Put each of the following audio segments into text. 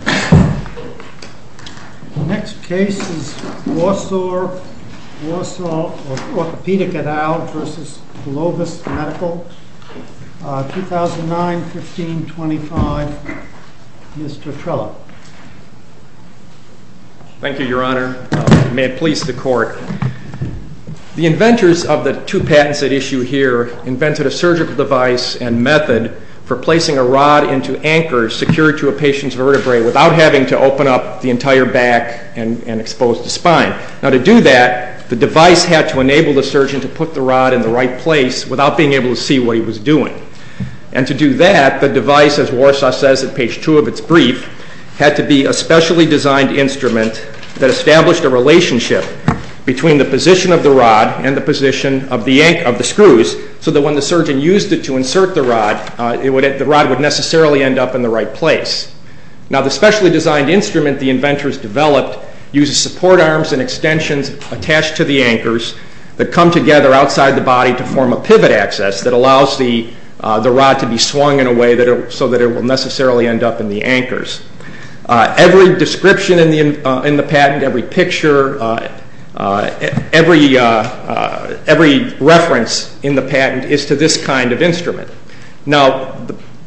2009-15-25 Mr. Trello. Thank you, your honor. May it please the court. The inventors of the two patents at issue here invented a surgical device and method for placing a rod into anchors secured to a patient's vertebrae where the patient's vertebrae would not be able to move. Without having to open up the entire back and expose the spine. Now to do that, the device had to enable the surgeon to put the rod in the right place without being able to see what he was doing. And to do that, the device, as WARSAW says at page 2 of its brief, had to be a specially designed instrument that established a relationship between the position of the rod and the position of the screws so that when the surgeon used it to insert the rod, the rod would necessarily end up in the right place. Now the specially designed instrument the inventors developed uses support arms and extensions attached to the anchors that come together outside the body to form a pivot access that allows the rod to be swung in a way so that it will necessarily end up in the anchors. Every description in the patent, every picture, every reference in the patent is to this kind of instrument. Now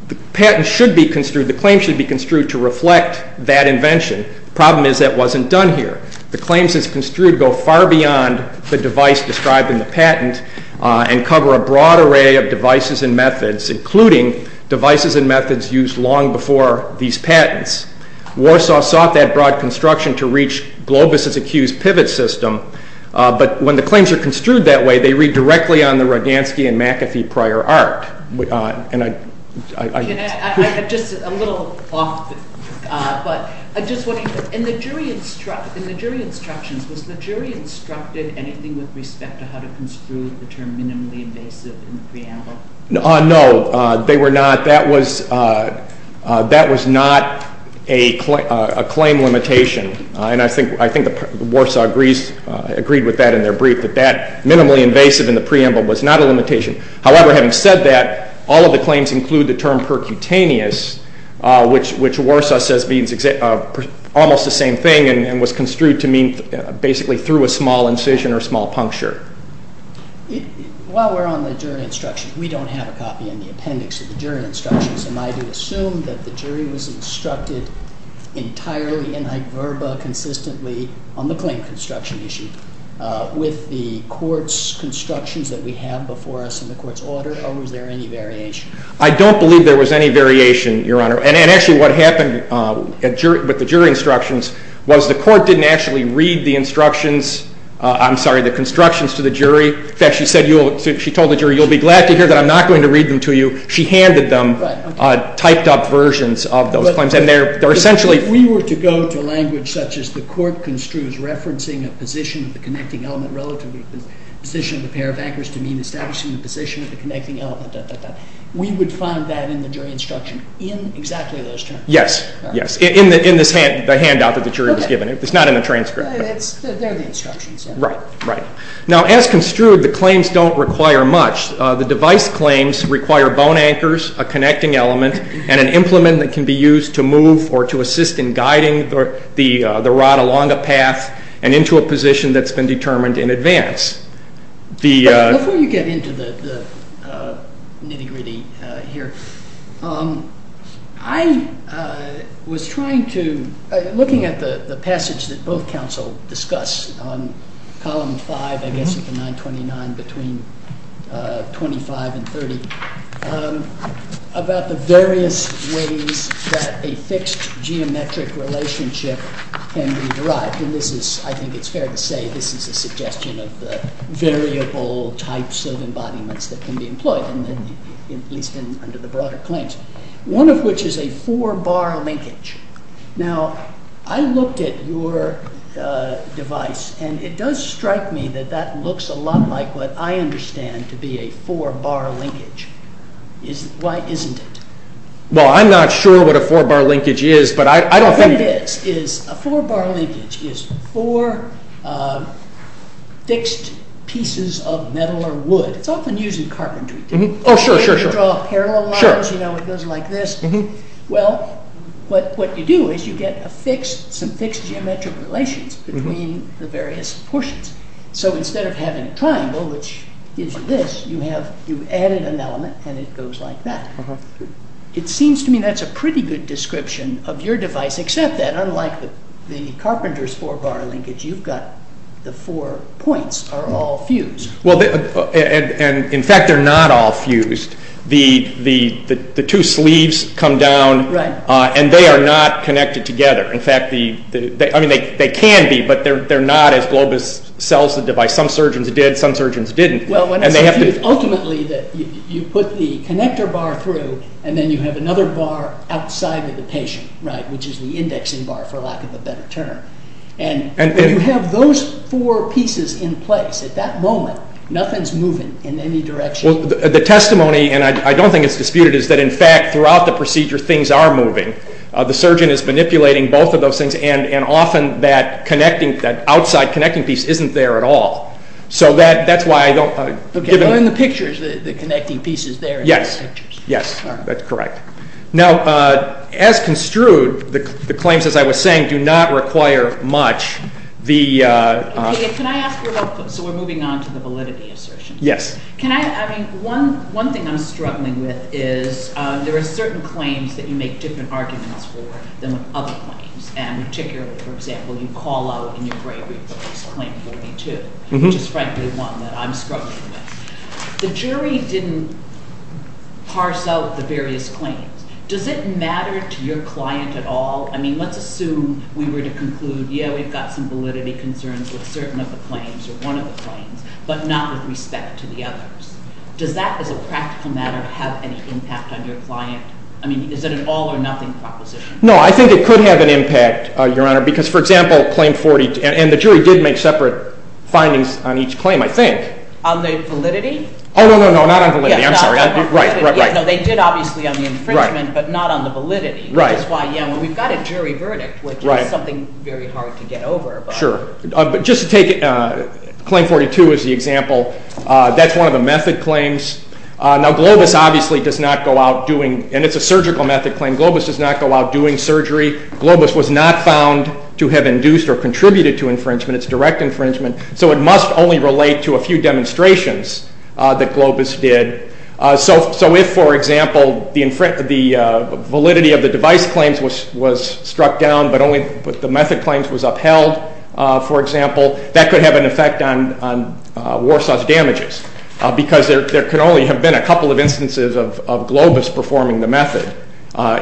the patent should be construed, the claim should be construed to reflect that invention. The problem is that wasn't done here. The claims that's construed go far beyond the device described in the patent and cover a broad array of devices and methods including devices and methods used long before these patents. WARSAW sought that broad construction to reach Globus' accused pivot system, but when the claims are construed that way, they read directly on the Rodansky and McAfee prior art. In the jury instructions, was the jury instructed anything with respect to how to construe the term minimally invasive in the preamble? No, that was not a claim limitation and I think WARSAW agreed with that in their brief, that minimally invasive in the preamble was not a limitation. However, having said that, all of the claims include the term percutaneous, which WARSAW says means almost the same thing and was construed to mean basically through a small incision or small puncture. While we're on the jury instructions, we don't have a copy in the appendix of the jury instructions and I do assume that the jury was instructed entirely in hyperbole consistently on the claim construction issue with the court's constructions that we have before us in the court's order or was there any variation? I don't believe there was any variation, Your Honor, and actually what happened with the jury instructions was the court didn't actually read the instructions, I'm sorry, the constructions to the jury. In fact, she told the jury, you'll be glad to hear that I'm not going to read them to you. She handed them typed up versions of those claims and they're essentially... relative to the position of the pair of anchors to mean establishing the position of the connecting element. We would find that in the jury instruction in exactly those terms. Yes, yes, in the handout that the jury was given. It's not in the transcript. They're the instructions. Right, right. Now as construed, the claims don't require much. The device claims require bone anchors, a connecting element, and an implement that can be used to move or to assist in guiding the rod along a path and into a position that's been determined in advance. Before you get into the nitty-gritty here, I was trying to... looking at the passage that both counsel discussed on column 5, I guess, of the 929 between 25 and 30 about the various ways that a fixed geometric relationship can be derived. I think it's fair to say this is a suggestion of the variable types of embodiments that can be employed, at least under the broader claims, one of which is a four-bar linkage. Now, I looked at your device and it does strike me that that looks a lot like what I understand to be a four-bar linkage. Why isn't it? Well, I'm not sure what a four-bar linkage is, but I don't think... A four-bar linkage is four fixed pieces of metal or wood. It's often used in carpentry. Oh, sure, sure, sure. You draw parallel lines, you know, it goes like this. Well, what you do is you get some fixed geometric relations between the various portions. So instead of having a triangle, which is this, you added an element and it goes like that. It seems to me that's a pretty good description of your device, except that unlike the carpenter's four-bar linkage, you've got the four points are all fused. Well, in fact, they're not all fused. The two sleeves come down and they are not connected together. In fact, they can be, but they're not as Globus sells the device. Some surgeons did, some surgeons didn't. Ultimately, you put the connector bar through and then you have another bar outside of the patient, which is the indexing bar, for lack of a better term. You have those four pieces in place. At that moment, nothing's moving in any direction. The testimony, and I don't think it's disputed, is that in fact, throughout the procedure, things are moving. The surgeon is manipulating both of those things, and often that outside connecting piece isn't there at all. So that's why I don't... Okay, well, in the pictures, the connecting piece is there in the pictures. Yes, yes, that's correct. Now, as construed, the claims, as I was saying, do not require much. Can I ask you about, so we're moving on to the validity assertion. Yes. Can I, I mean, one thing I'm struggling with is there are certain claims that you make different arguments for than other claims. And particularly, for example, you call out in your bravery for this claim 42, which is frankly one that I'm struggling with. The jury didn't parse out the various claims. Does it matter to your client at all? I mean, let's assume we were to conclude, yeah, we've got some validity concerns with certain of the claims or one of the claims, but not with respect to the others. Does that, as a practical matter, have any impact on your client? I mean, is it an all or nothing proposition? No, I think it could have an impact, Your Honor, because, for example, claim 42, and the jury did make separate findings on each claim, I think. On the validity? Oh, no, no, no, not on validity. I'm sorry. Right, right, right. No, they did obviously on the infringement, but not on the validity. Right. Which is why, yeah, we've got a jury verdict, which is something very hard to get over. Sure. But just to take claim 42 as the example, that's one of the method claims. Now, Globus obviously does not go out doing, and it's a surgical method claim, Globus does not go out doing surgery. Globus was not found to have induced or contributed to infringement. It's direct infringement. So it must only relate to a few demonstrations that Globus did. So if, for example, the validity of the device claims was struck down, but only the method claims was upheld, for example, that could have an effect on Warsaw's damages, because there could only have been a couple of instances of Globus performing the method,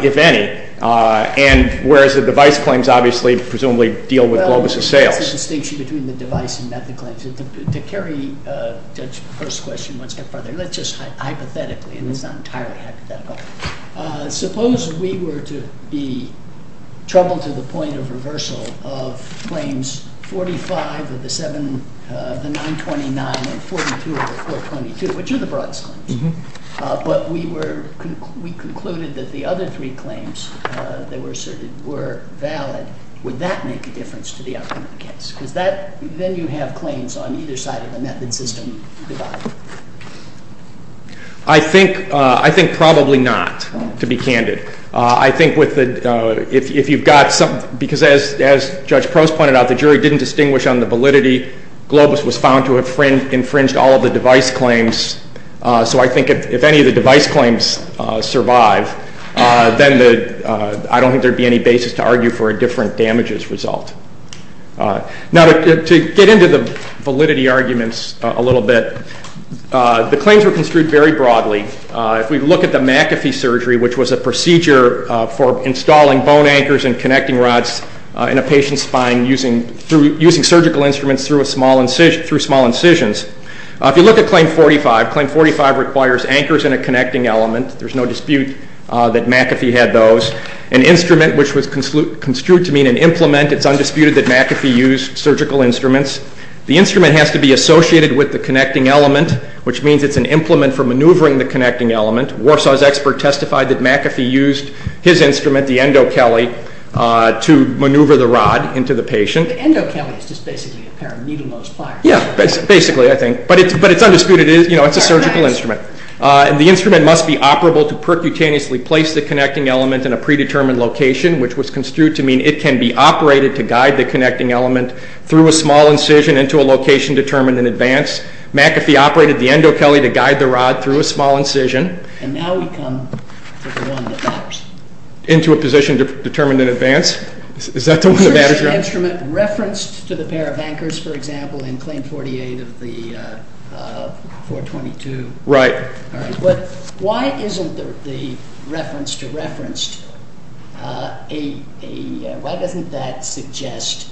if any, and whereas the device claims obviously presumably deal with Globus' sales. Well, that's the distinction between the device and method claims. To carry Judge's first question one step further, let's just hypothetically, and it's not entirely hypothetical. Suppose we were to be troubled to the point of reversal of claims 45 of the 929 and 42 of the 422, which are the broad claims, but we concluded that the other three claims that were asserted were valid. Would that make a difference to the outcome of the case? Because then you have claims on either side of the method system divided. I think probably not, to be candid. I think if you've got some – because as Judge Prost pointed out, the jury didn't distinguish on the validity. Globus was found to have infringed all of the device claims. So I think if any of the device claims survive, then I don't think there would be any basis to argue for a different damages result. Now, to get into the validity arguments a little bit, the claims were construed very broadly. If we look at the McAfee surgery, which was a procedure for installing bone anchors and connecting rods in a patient's spine using surgical instruments through small incisions. If you look at claim 45, claim 45 requires anchors and a connecting element. There's no dispute that McAfee had those. An instrument, which was construed to mean an implement, it's undisputed that McAfee used surgical instruments. The instrument has to be associated with the connecting element, which means it's an implement for maneuvering the connecting element. Warsaw's expert testified that McAfee used his instrument, the endo-kelly, to maneuver the rod into the patient. The endo-kelly is just basically a pair of needle-nose pliers. Yeah, basically, I think. But it's undisputed. It's a surgical instrument. And the instrument must be operable to percutaneously place the connecting element in a predetermined location, which was construed to mean it can be operated to guide the connecting element through a small incision into a location determined in advance. McAfee operated the endo-kelly to guide the rod through a small incision. And now we come to the one that matters. Into a position determined in advance. Is that the one that matters? Is the instrument referenced to the pair of anchors, for example, in Claim 48 of the 422? Right. Why isn't the reference to reference, why doesn't that suggest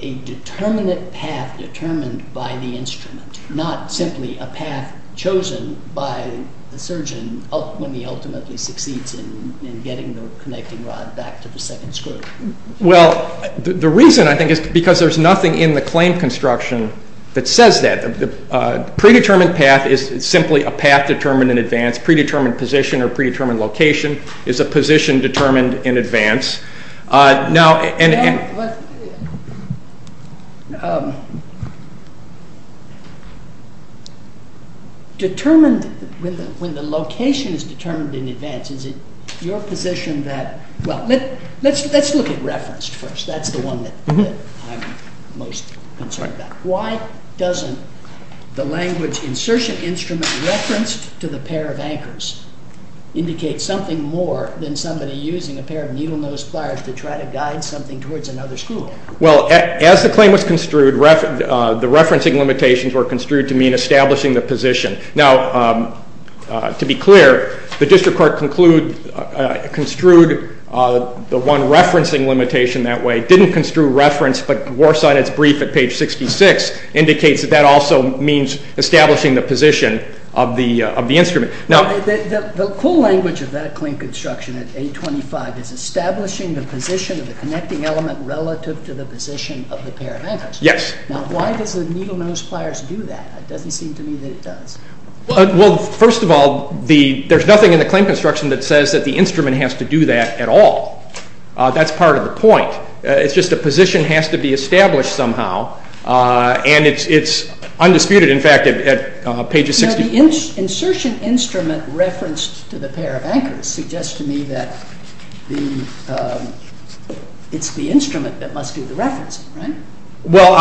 a determinate path determined by the instrument, not simply a path chosen by the surgeon when he ultimately succeeds in getting the connecting rod back to the second screw? Well, the reason, I think, is because there's nothing in the claim construction that says that. Predetermined path is simply a path determined in advance. Predetermined position or predetermined location is a position determined in advance. When the location is determined in advance, is it your position that, well, let's look at referenced first. That's the one that I'm most concerned about. Why doesn't the language insertion instrument referenced to the pair of anchors indicate something more than somebody using a pair of needle-nose pliers to try to guide something towards another screw? Well, as the claim was construed, the referencing limitations were construed to mean establishing the position. Now, to be clear, the district court construed the one referencing limitation that way, didn't construe reference, but works on its brief at page 66, indicates that that also means establishing the position of the instrument. The full language of that claim construction at 825 is establishing the position of the connecting element relative to the position of the pair of anchors. Yes. Now, why does the needle-nose pliers do that? It doesn't seem to me that it does. Well, first of all, there's nothing in the claim construction that says that the instrument has to do that at all. That's part of the point. It's just a position has to be established somehow, and it's undisputed, in fact, at page 64. The insertion instrument referenced to the pair of anchors suggests to me that it's the instrument that must do the referencing, right? Well,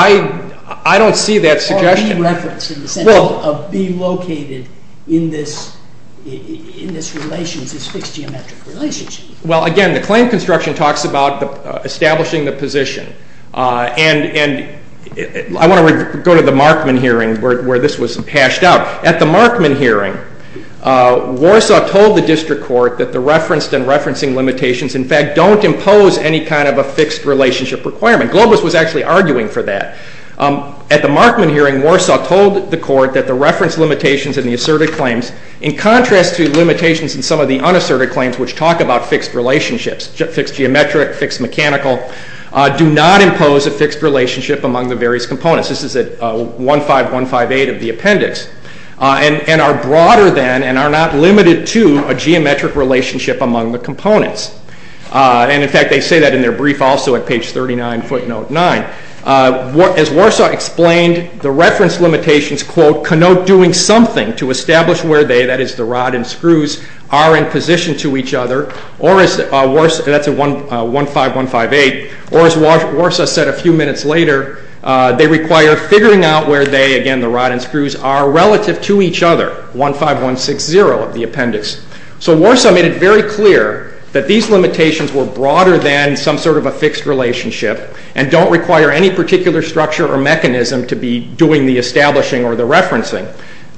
I don't see that suggestion. Or re-reference in the sense of being located in this relationship, this fixed geometric relationship. Well, again, the claim construction talks about establishing the position, and I want to go to the Markman hearing where this was hashed out. At the Markman hearing, Warsaw told the district court that the referenced and referencing limitations, in fact, don't impose any kind of a fixed relationship requirement. Globus was actually arguing for that. At the Markman hearing, Warsaw told the court that the reference limitations in the asserted claims, in contrast to limitations in some of the unasserted claims, which talk about fixed relationships, fixed geometric, fixed mechanical, do not impose a fixed relationship among the various components. This is at 15158 of the appendix. And are broader than and are not limited to a geometric relationship among the components. And, in fact, they say that in their brief also at page 39, footnote 9. As Warsaw explained, the reference limitations, quote, And to establish where they, that is the rod and screws, are in position to each other, or as Warsaw said a few minutes later, they require figuring out where they, again, the rod and screws, are relative to each other. 15160 of the appendix. So Warsaw made it very clear that these limitations were broader than some sort of a fixed relationship and don't require any particular structure or mechanism to be doing the establishing or the referencing.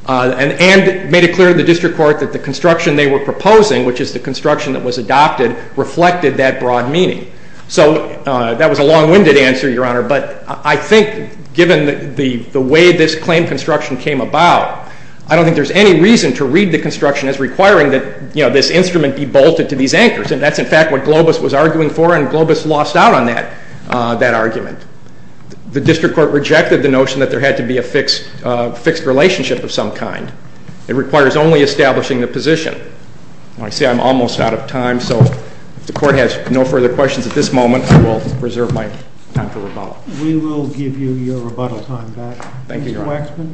And made it clear to the district court that the construction they were proposing, which is the construction that was adopted, reflected that broad meaning. So that was a long-winded answer, Your Honor, but I think given the way this claim construction came about, I don't think there's any reason to read the construction as requiring that this instrument be bolted to these anchors. And that's, in fact, what Globus was arguing for and Globus lost out on that argument. The district court rejected the notion that there had to be a fixed relationship of some kind. It requires only establishing the position. I see I'm almost out of time, so if the court has no further questions at this moment, I will reserve my time for rebuttal. We will give you your rebuttal time back. Thank you, Your Honor. Mr. Waxman.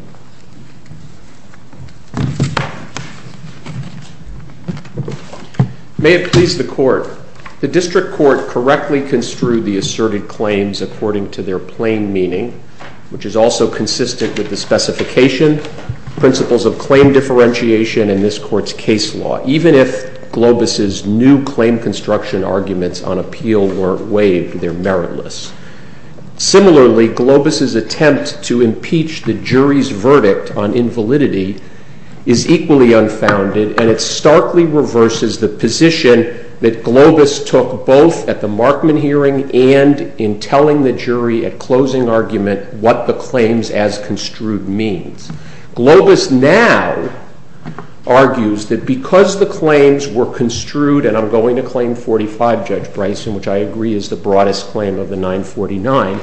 May it please the court. The district court correctly construed the asserted claims according to their plain meaning, which is also consistent with the specification principles of claim differentiation in this court's case law. Even if Globus' new claim construction arguments on appeal weren't waived, they're meritless. Similarly, Globus' attempt to impeach the jury's verdict on invalidity is equally unfounded, and it starkly reverses the position that Globus took both at the Markman hearing and in telling the jury at closing argument what the claims as construed means. Globus now argues that because the claims were construed, and I'm going to claim 45, Judge Bryson, which I agree is the broadest claim of the 949,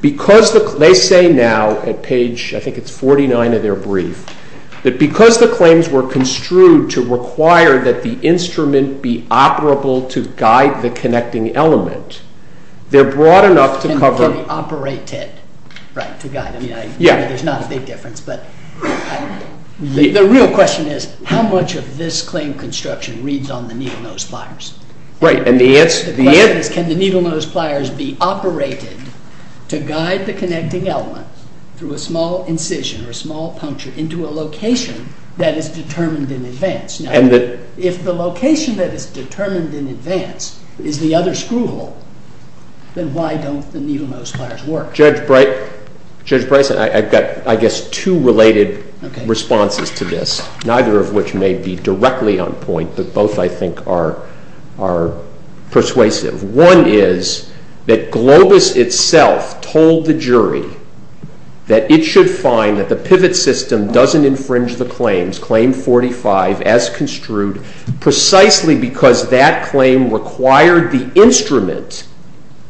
because they say now at page, I think it's 49 of their brief, that because the claims were construed to require that the instrument be operable to guide the connecting element, they're broad enough to cover. Operated, right, to guide. I mean, there's not a big difference, but the real question is, how much of this claim construction reads on the needle-nose pliers? The question is, can the needle-nose pliers be operated to guide the connecting element through a small incision or a small puncture into a location that is determined in advance? If the location that is determined in advance is the other screw hole, then why don't the needle-nose pliers work? Judge Bryson, I've got, I guess, two related responses to this, neither of which may be directly on point, but both, I think, are persuasive. One is that Globus itself told the jury that it should find that the pivot system doesn't infringe the claims, claim 45, as construed, precisely because that claim required the instrument,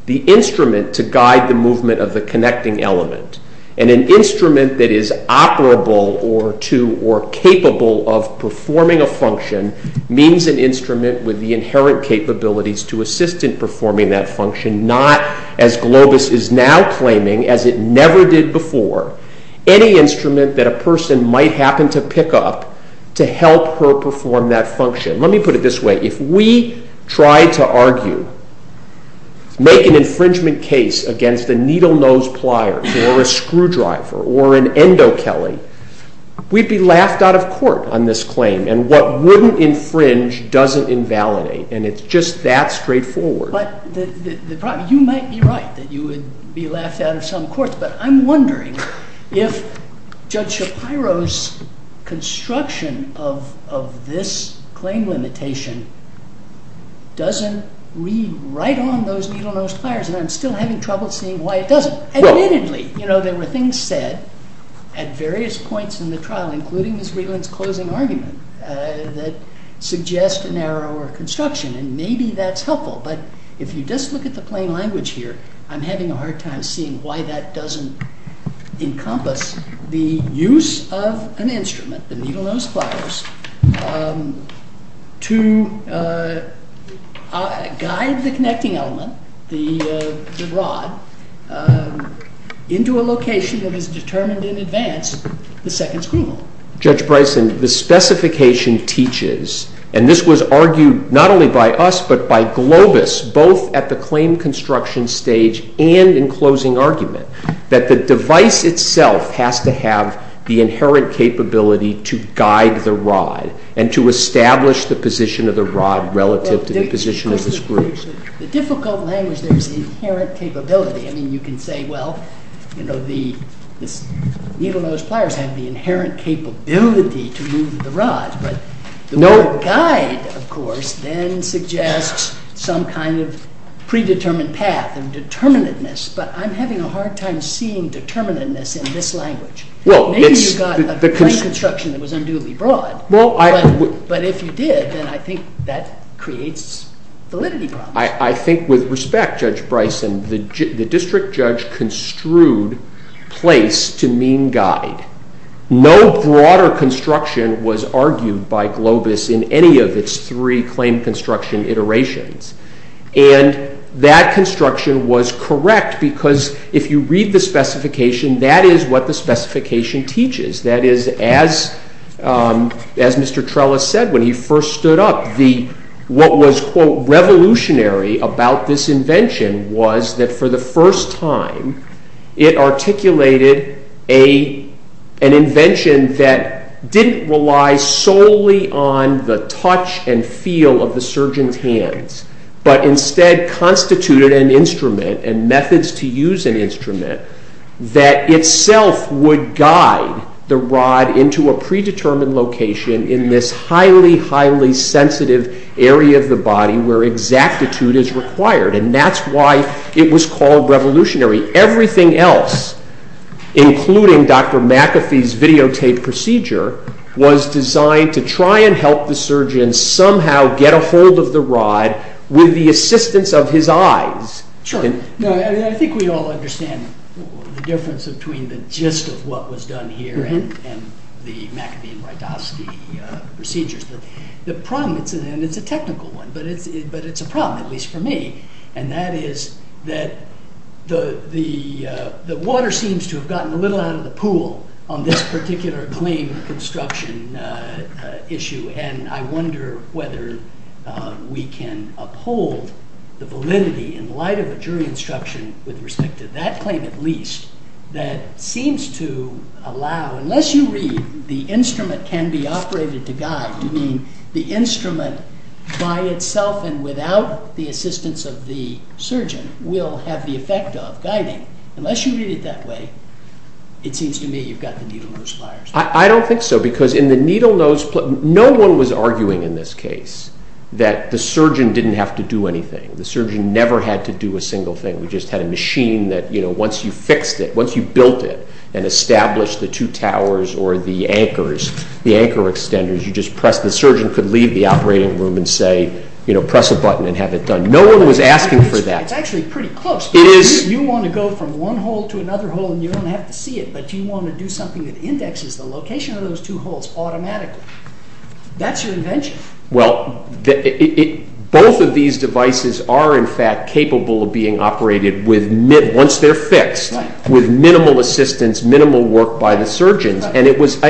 the instrument to guide the movement of the connecting element, and an instrument that is operable or capable of performing a function means an instrument with the inherent capabilities to assist in performing that function, not, as Globus is now claiming, as it never did before, any instrument that a person might happen to pick up to help her perform that function. Let me put it this way. If we try to argue, make an infringement case against a needle-nose plier or a screwdriver or an endo-kelly, we'd be laughed out of court on this claim, and what wouldn't infringe doesn't invalidate, and it's just that straightforward. But the problem, you might be right that you would be laughed out of some courts, but I'm wondering if Judge Shapiro's construction of this claim limitation doesn't read right on those needle-nose pliers, and I'm still having trouble seeing why it doesn't. Admittedly, you know, there were things said at various points in the trial, including Ms. Regland's closing argument, that suggest a narrower construction, and maybe that's helpful, but if you just look at the plain language here, I'm having a hard time seeing why that doesn't encompass the use of an instrument, the needle-nose pliers, to guide the connecting element, the rod, into a location that is determined in advance, the second's criminal. Judge Bryson, the specification teaches, and this was argued not only by us, but by Globus, both at the claim construction stage and in closing argument, that the device itself has to have the inherent capability to guide the rod, and to establish the position of the rod relative to the position of the screw. The difficult language there is inherent capability. I mean, you can say, well, you know, the needle-nose pliers have the inherent capability to move the rod, but the word guide, of course, then suggests some kind of predetermined path and determinateness, but I'm having a hard time seeing determinateness in this language. Maybe you got a plain construction that was unduly broad, but if you did, then I think that creates validity problems. I think with respect, Judge Bryson, the district judge construed place to mean guide. No broader construction was argued by Globus in any of its three claim construction iterations, and that construction was correct, because if you read the specification, that is what the specification teaches. That is, as Mr. Trellis said when he first stood up, what was, quote, revolutionary about this invention was that for the first time, it articulated an invention that didn't rely solely on the touch and feel of the surgeon's hands, but instead constituted an instrument and methods to use an instrument that itself would guide the rod into a predetermined location in this highly, highly sensitive area of the body where exactitude is required, and that's why it was called revolutionary. Everything else, including Dr. McAfee's videotaped procedure, was designed to try and help the surgeon somehow get a hold of the rod with the assistance of his eyes. Sure. I think we all understand the difference between the gist of what was done here and the McAfee and Rydowski procedures. The problem, and it's a technical one, but it's a problem, at least for me, and that is that the water seems to have gotten a little out of the pool on this particular claim construction issue, and I wonder whether we can uphold the validity in light of a jury instruction with respect to that claim at least that seems to allow, unless you read the instrument can be operated to guide, you mean the instrument by itself and without the assistance of the surgeon will have the effect of guiding. Unless you read it that way, it seems to me you've got the needle nose pliers. I don't think so because in the needle nose, no one was arguing in this case that the surgeon didn't have to do anything. The surgeon never had to do a single thing. We just had a machine that once you fixed it, once you built it and established the two towers or the anchors, the anchor extenders, you just press. The surgeon could leave the operating room and say, press a button and have it done. No one was asking for that. It's actually pretty close. It is. You want to go from one hole to another hole and you don't have to see it, but you want to do something that indexes the location of those two holes automatically. That's your invention. Well, both of these devices are in fact capable of being operated once they're fixed with minimal assistance, minimal work by the surgeons. And it was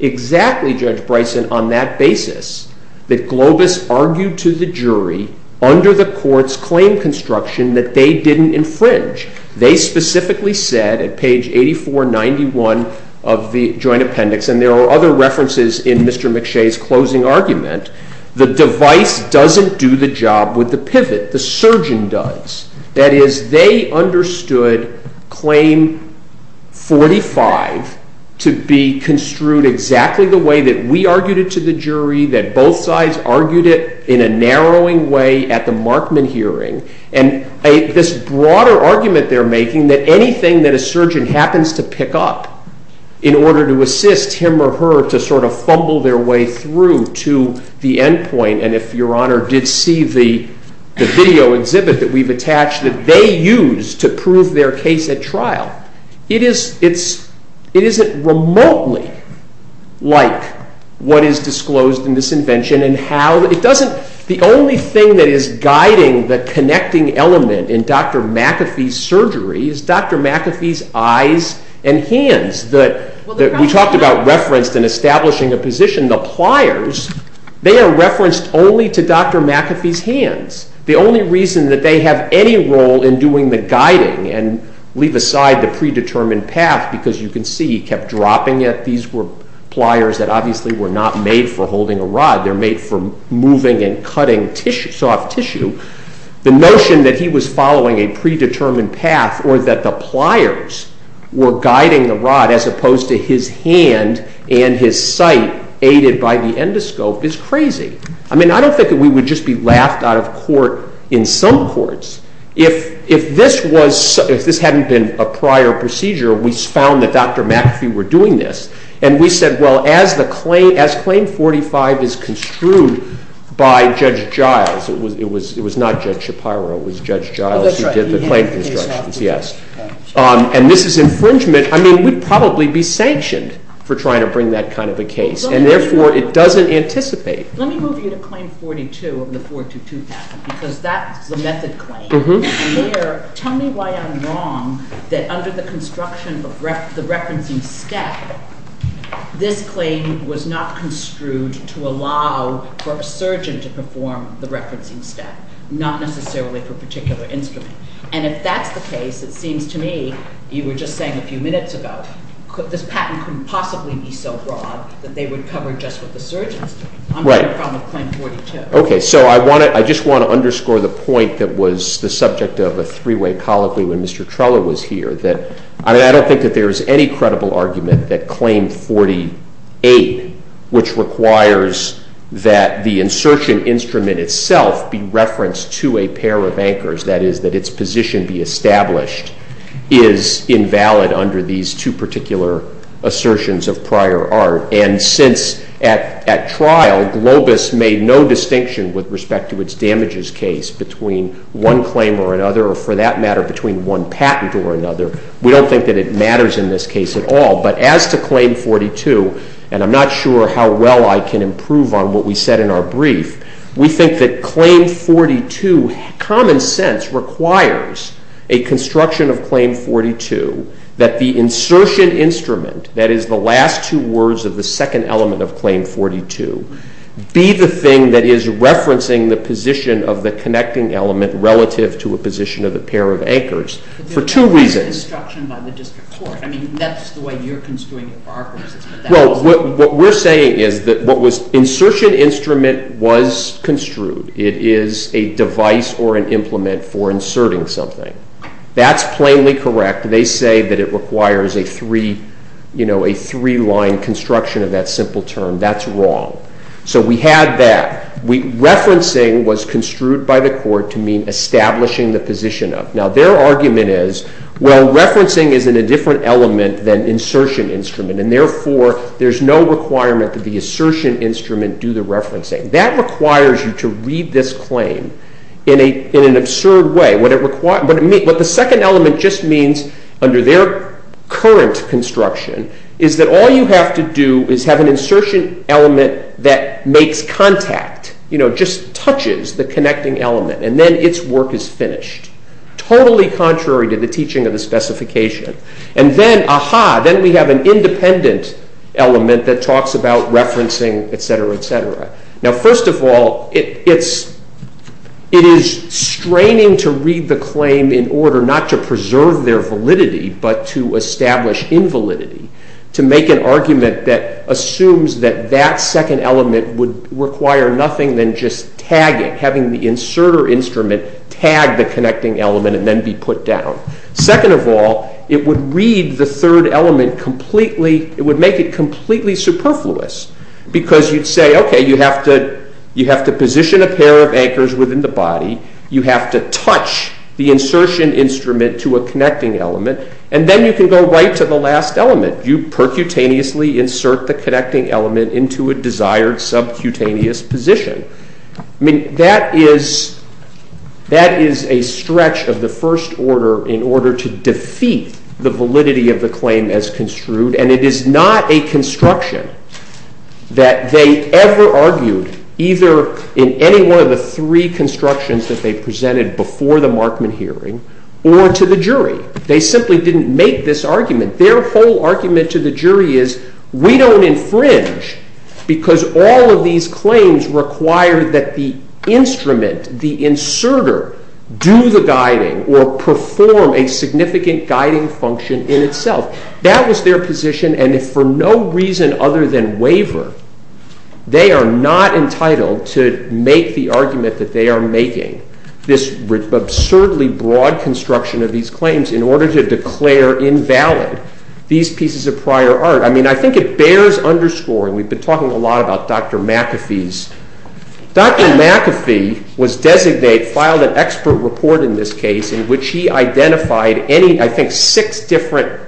exactly, Judge Bryson, on that basis that Globus argued to the jury under the court's claim construction that they didn't infringe. They specifically said at page 8491 of the joint appendix, and there are other references in Mr. McShay's closing argument, the device doesn't do the job with the pivot. The surgeon does. That is, they understood Claim 45 to be construed exactly the way that we argued it to the jury, that both sides argued it in a narrowing way at the Markman hearing. And this broader argument they're making that anything that a surgeon happens to pick up in order to assist him or her to sort of fumble their way through to the endpoint, and if Your Honor did see the video exhibit that we've attached that they used to prove their case at trial, it isn't remotely like what is disclosed in this invention. The only thing that is guiding the connecting element in Dr. McAfee's surgery is Dr. McAfee's eyes and hands that we talked about referenced in establishing a position, the pliers, they are referenced only to Dr. McAfee's hands. The only reason that they have any role in doing the guiding and leave aside the predetermined path because you can see he kept dropping it. These were pliers that obviously were not made for holding a rod. They're made for moving and cutting soft tissue. The notion that he was following a predetermined path or that the pliers were guiding the rod as opposed to his hand and his sight aided by the endoscope is crazy. I mean, I don't think that we would just be laughed out of court in some courts. If this hadn't been a prior procedure, we found that Dr. McAfee were doing this, and we said, well, as Claim 45 is construed by Judge Giles, it was not Judge Shapiro, it was Judge Giles who did the claim constructions, yes, and this is infringement. I mean, we'd probably be sanctioned for trying to bring that kind of a case, and therefore, it doesn't anticipate. Let me move you to Claim 42 of the 422 patent because that's the method claim. Tell me why I'm wrong that under the construction of the referencing step, this claim was not construed to allow for a surgeon to perform the referencing step, not necessarily for a particular instrument, and if that's the case, it seems to me you were just saying a few minutes ago, this patent couldn't possibly be so broad that they would cover just what the surgeons do. I'm talking about Claim 42. Okay, so I just want to underscore the point that was the subject of a three-way colloquy when Mr. Treloar was here, that I don't think that there is any credible argument that Claim 48, which requires that the insertion instrument itself be referenced to a pair of anchors, that is, that its position be established, is invalid under these two particular assertions of prior art, and since at trial Globus made no distinction with respect to its damages case between one claim or another, or for that matter, between one patent or another, we don't think that it matters in this case at all, but as to Claim 42, and I'm not sure how well I can improve on what we said in our brief, we think that Claim 42, common sense requires a construction of Claim 42 that the insertion instrument, that is, the last two words of the second element of Claim 42, be the thing that is referencing the position of the connecting element relative to a position of the pair of anchors for two reasons. But there was no construction by the district court. I mean, that's the way you're construing it for our purposes. Well, what we're saying is that what was insertion instrument was construed. It is a device or an implement for inserting something. That's plainly correct. They say that it requires a three-line construction of that simple term. That's wrong. So we had that. Referencing was construed by the court to mean establishing the position of. Now, their argument is, well, referencing is in a different element than insertion instrument, and therefore there's no requirement that the insertion instrument do the referencing. That requires you to read this claim in an absurd way. What the second element just means under their current construction is that all you have to do is have an insertion element that makes contact, you know, just touches the connecting element, and then its work is finished, totally contrary to the teaching of the specification. And then, ah-ha, then we have an independent element that talks about referencing, et cetera, et cetera. Now, first of all, it is straining to read the claim in order not to preserve their validity but to establish invalidity, to make an argument that assumes that that second element would require nothing than just tagging, having the inserter instrument tag the connecting element and then be put down. Second of all, it would read the third element completely, it would make it completely superfluous because you'd say, okay, you have to position a pair of anchors within the body, you have to touch the insertion instrument to a connecting element, and then you can go right to the last element. You percutaneously insert the connecting element into a desired subcutaneous position. I mean, that is a stretch of the first order in order to defeat the validity of the claim as construed, and it is not a construction that they ever argued either in any one of the three constructions that they presented before the Markman hearing or to the jury. They simply didn't make this argument. Their whole argument to the jury is, we don't infringe because all of these claims require that the instrument, the inserter, do the guiding or perform a significant guiding function in itself. That was their position, and for no reason other than waiver, they are not entitled to make the argument that they are making this absurdly broad construction of these claims in order to declare invalid these pieces of prior art. I mean, I think it bears underscoring. We've been talking a lot about Dr. McAfee's. Dr. McAfee was designated, filed an expert report in this case in which he identified any, I think, six different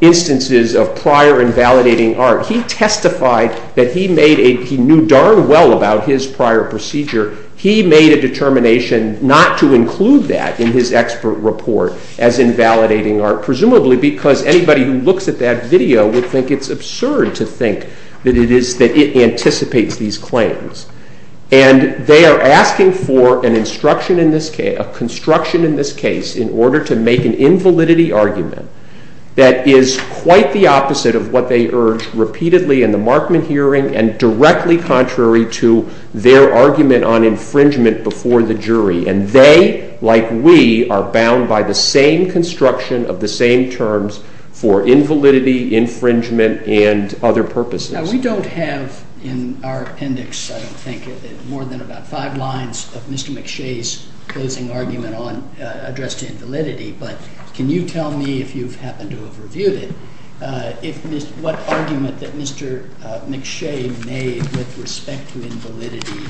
instances of prior invalidating art. He testified that he knew darn well about his prior procedure. He made a determination not to include that in his expert report as invalidating art, presumably because anybody who looks at that video would think it's absurd to think that it anticipates these claims. And they are asking for a construction in this case in order to make an invalidity argument that is quite the opposite of what they urged repeatedly in the Markman hearing and directly contrary to their argument on infringement before the jury. And they, like we, are bound by the same construction of the same terms for invalidity, infringement, and other purposes. Now, we don't have in our appendix, I don't think, more than about five lines of Mr. McShay's closing argument on address to invalidity. But can you tell me, if you happen to have reviewed it, what argument that Mr. McShay made with respect to invalidity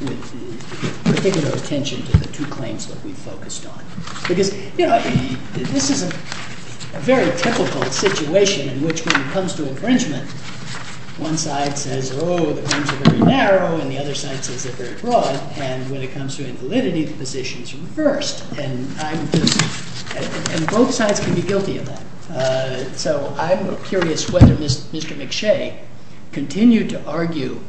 with particular attention to the two claims that we focused on? Because this is a very typical situation in which when it comes to infringement, one side says, oh, the claims are very narrow, and the other side says they're very broad. And when it comes to invalidity, the position is reversed. And both sides can be guilty of that. So I'm curious whether Mr. McShay continued to argue,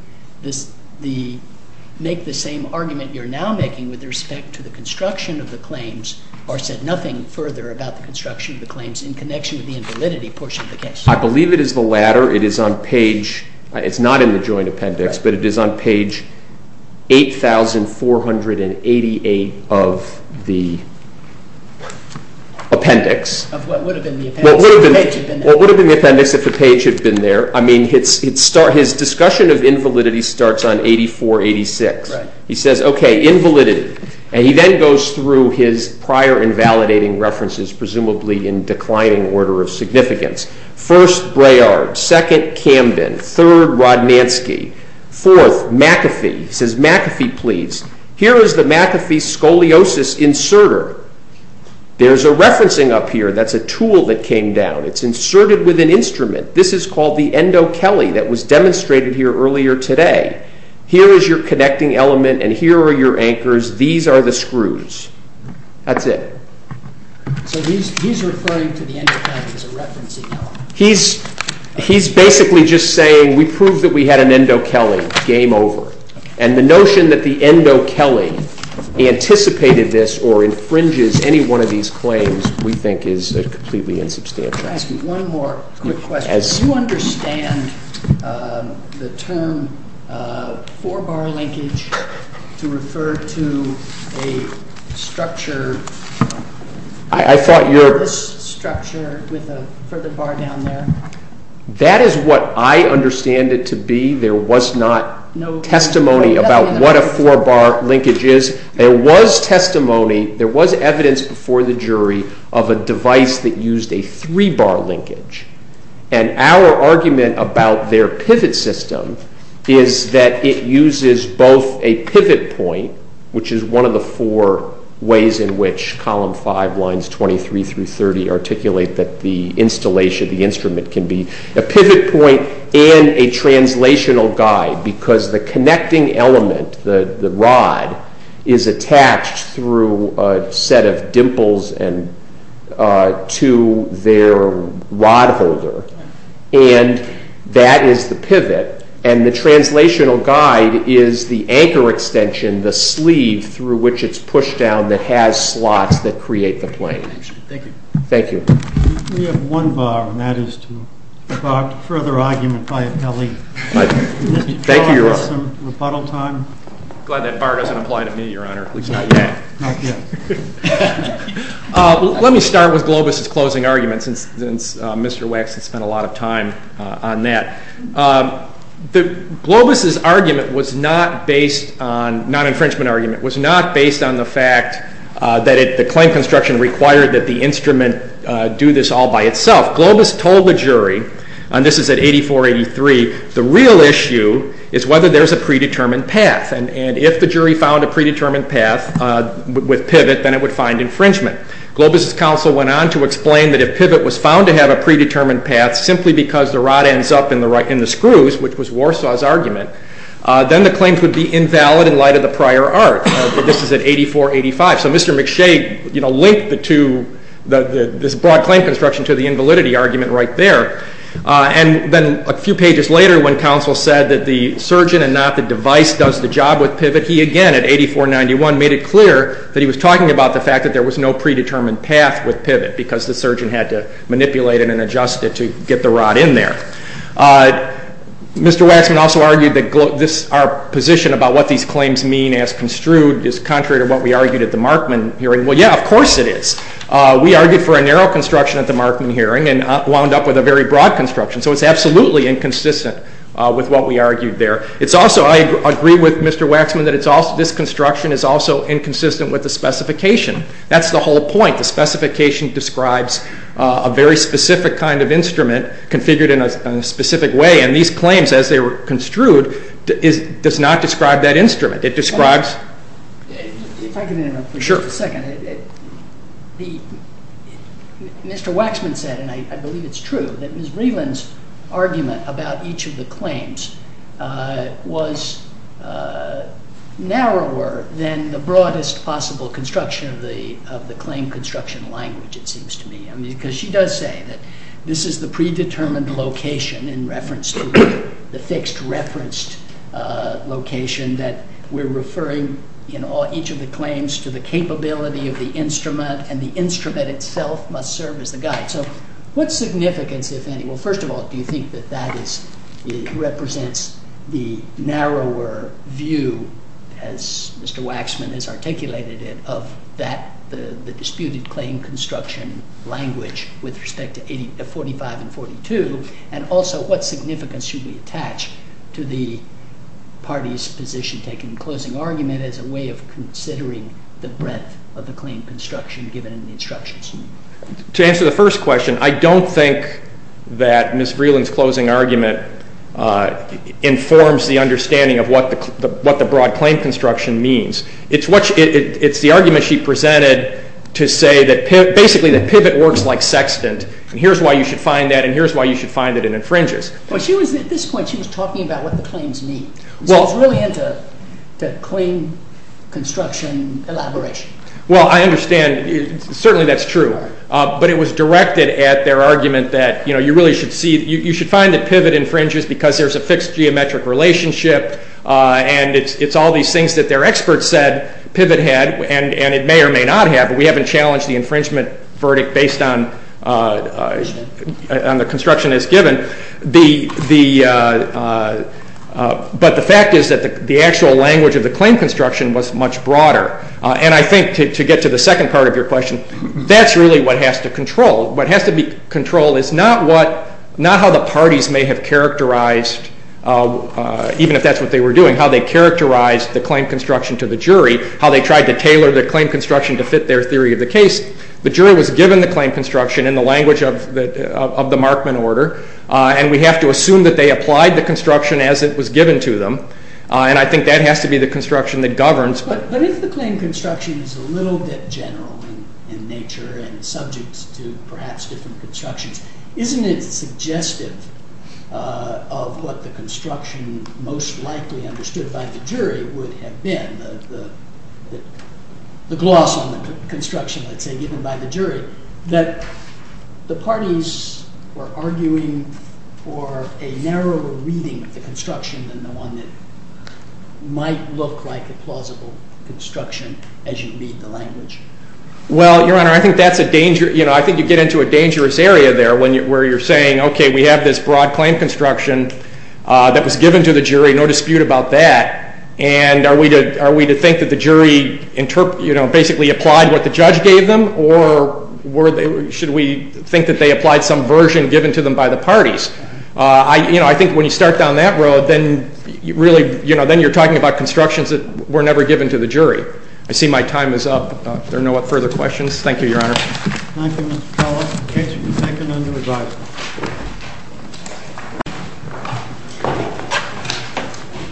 make the same argument you're now making with respect to the construction of the claims or said nothing further about the construction of the claims in connection with the invalidity portion of the case. I believe it is the latter. It is on page, it's not in the joint appendix, but it is on page 8,488 of the appendix. Of what would have been the appendix if the page had been there. What would have been the appendix if the page had been there. I mean, his discussion of invalidity starts on 8486. He says, okay, invalidity. And he then goes through his prior invalidating references, presumably in declining order of significance. First, Braillard. Second, Camden. Third, Rodnanski. Fourth, McAfee. He says, McAfee, please. Here is the McAfee scoliosis inserter. There's a referencing up here. That's a tool that came down. It's inserted with an instrument. This is called the endo-kelly that was demonstrated here earlier today. Here is your connecting element, and here are your anchors. These are the screws. That's it. So he's referring to the endo-kelly as a referencing element. He's basically just saying we proved that we had an endo-kelly. Game over. And the notion that the endo-kelly anticipated this or infringes any one of these claims we think is completely insubstantial. Can I ask you one more quick question? Do you understand the term 4-bar linkage to refer to a structure? I thought you were. This structure with a further bar down there. That is what I understand it to be. There was not testimony about what a 4-bar linkage is. There was testimony. There was evidence before the jury of a device that used a 3-bar linkage. And our argument about their pivot system is that it uses both a pivot point, which is one of the four ways in which Column 5, Lines 23 through 30, articulate that the instrument can be a pivot point and a translational guide because the connecting element, the rod, is attached through a set of dimples to their rod holder. And that is the pivot. And the translational guide is the anchor extension, the sleeve through which it's pushed down that has slots that create the plane. Thank you. Thank you. We have one bar, and that is to further argument by a Kelly. Thank you, Your Honor. Glad that bar doesn't apply to me, Your Honor, at least not yet. Not yet. Let me start with Globus's closing argument, since Mr. Wax has spent a lot of time on that. Globus's argument was not based on, non-infringement argument, was not based on the fact that the claim construction required that the instrument do this all by itself. Globus told the jury, and this is at 8483, the real issue is whether there's a predetermined path. And if the jury found a predetermined path with pivot, then it would find infringement. Globus's counsel went on to explain that if pivot was found to have a predetermined path simply because the rod ends up in the screws, which was Warsaw's argument, then the claims would be invalid in light of the prior art. This is at 8485. So Mr. McShay linked this broad claim construction to the invalidity argument right there. And then a few pages later when counsel said that the surgeon and not the device does the job with pivot, he again at 8491 made it clear that he was talking about the fact that there was no predetermined path with pivot because the surgeon had to manipulate it and adjust it to get the rod in there. Mr. Waxman also argued that our position about what these claims mean as construed is contrary to what we argued at the Markman hearing. Well, yeah, of course it is. We argued for a narrow construction at the Markman hearing and wound up with a very broad construction. So it's absolutely inconsistent with what we argued there. It's also, I agree with Mr. Waxman that this construction is also inconsistent with the specification. That's the whole point. The specification describes a very specific kind of instrument configured in a specific way, and these claims as they were construed does not describe that instrument. If I could interrupt for a second. Sure. Mr. Waxman said, and I believe it's true, that Ms. Vreeland's argument about each of the claims was narrower than the broadest possible construction of the claim construction language, it seems to me. Because she does say that this is the predetermined location in reference to the fixed referenced location that we're referring in each of the claims to the capability of the instrument, and the instrument itself must serve as the guide. So what's significance, if any? Well, first of all, do you think that that represents the narrower view, as Mr. Waxman has articulated it, of the disputed claim construction language with respect to 45 and 42? And also, what significance should we attach to the party's position taking the closing argument as a way of considering the breadth of the claim construction given in the instructions? To answer the first question, I don't think that Ms. Vreeland's closing argument informs the understanding of what the broad claim construction means. It's the argument she presented to say that, basically, that pivot works like sextant, and here's why you should find that, and here's why you should find that it infringes. At this point, she was talking about what the claims mean. She was really into claim construction elaboration. Well, I understand. Certainly, that's true. But it was directed at their argument that you should find that pivot infringes because there's a fixed geometric relationship, and it's all these things that their experts said pivot had, and it may or may not have, but we haven't challenged the infringement verdict based on the construction as given. But the fact is that the actual language of the claim construction was much broader, and I think to get to the second part of your question, that's really what has to control. What has to be controlled is not how the parties may have characterized, even if that's what they were doing, how they characterized the claim construction to the jury, how they tried to tailor the claim construction to fit their theory of the case. The jury was given the claim construction in the language of the Markman order, and we have to assume that they applied the construction as it was given to them, and I think that has to be the construction that governs. But if the claim construction is a little bit general in nature and subject to perhaps different constructions, isn't it suggestive of what the construction most likely understood by the jury would have been, the gloss on the construction, let's say, given by the jury, that the parties were arguing for a narrower reading of the construction than the one that might look like a plausible construction as you read the language? Well, Your Honor, I think you get into a dangerous area there where you're saying, okay, we have this broad claim construction that was given to the jury, no dispute about that, and are we to think that the jury basically applied what the judge gave them, or should we think that they applied some version given to them by the parties? I think when you start down that road, then you're talking about constructions that were never given to the jury. I see my time is up. Are there no further questions? Thank you, Your Honor. Thank you, Mr. Trollo. The case is seconded under advisory.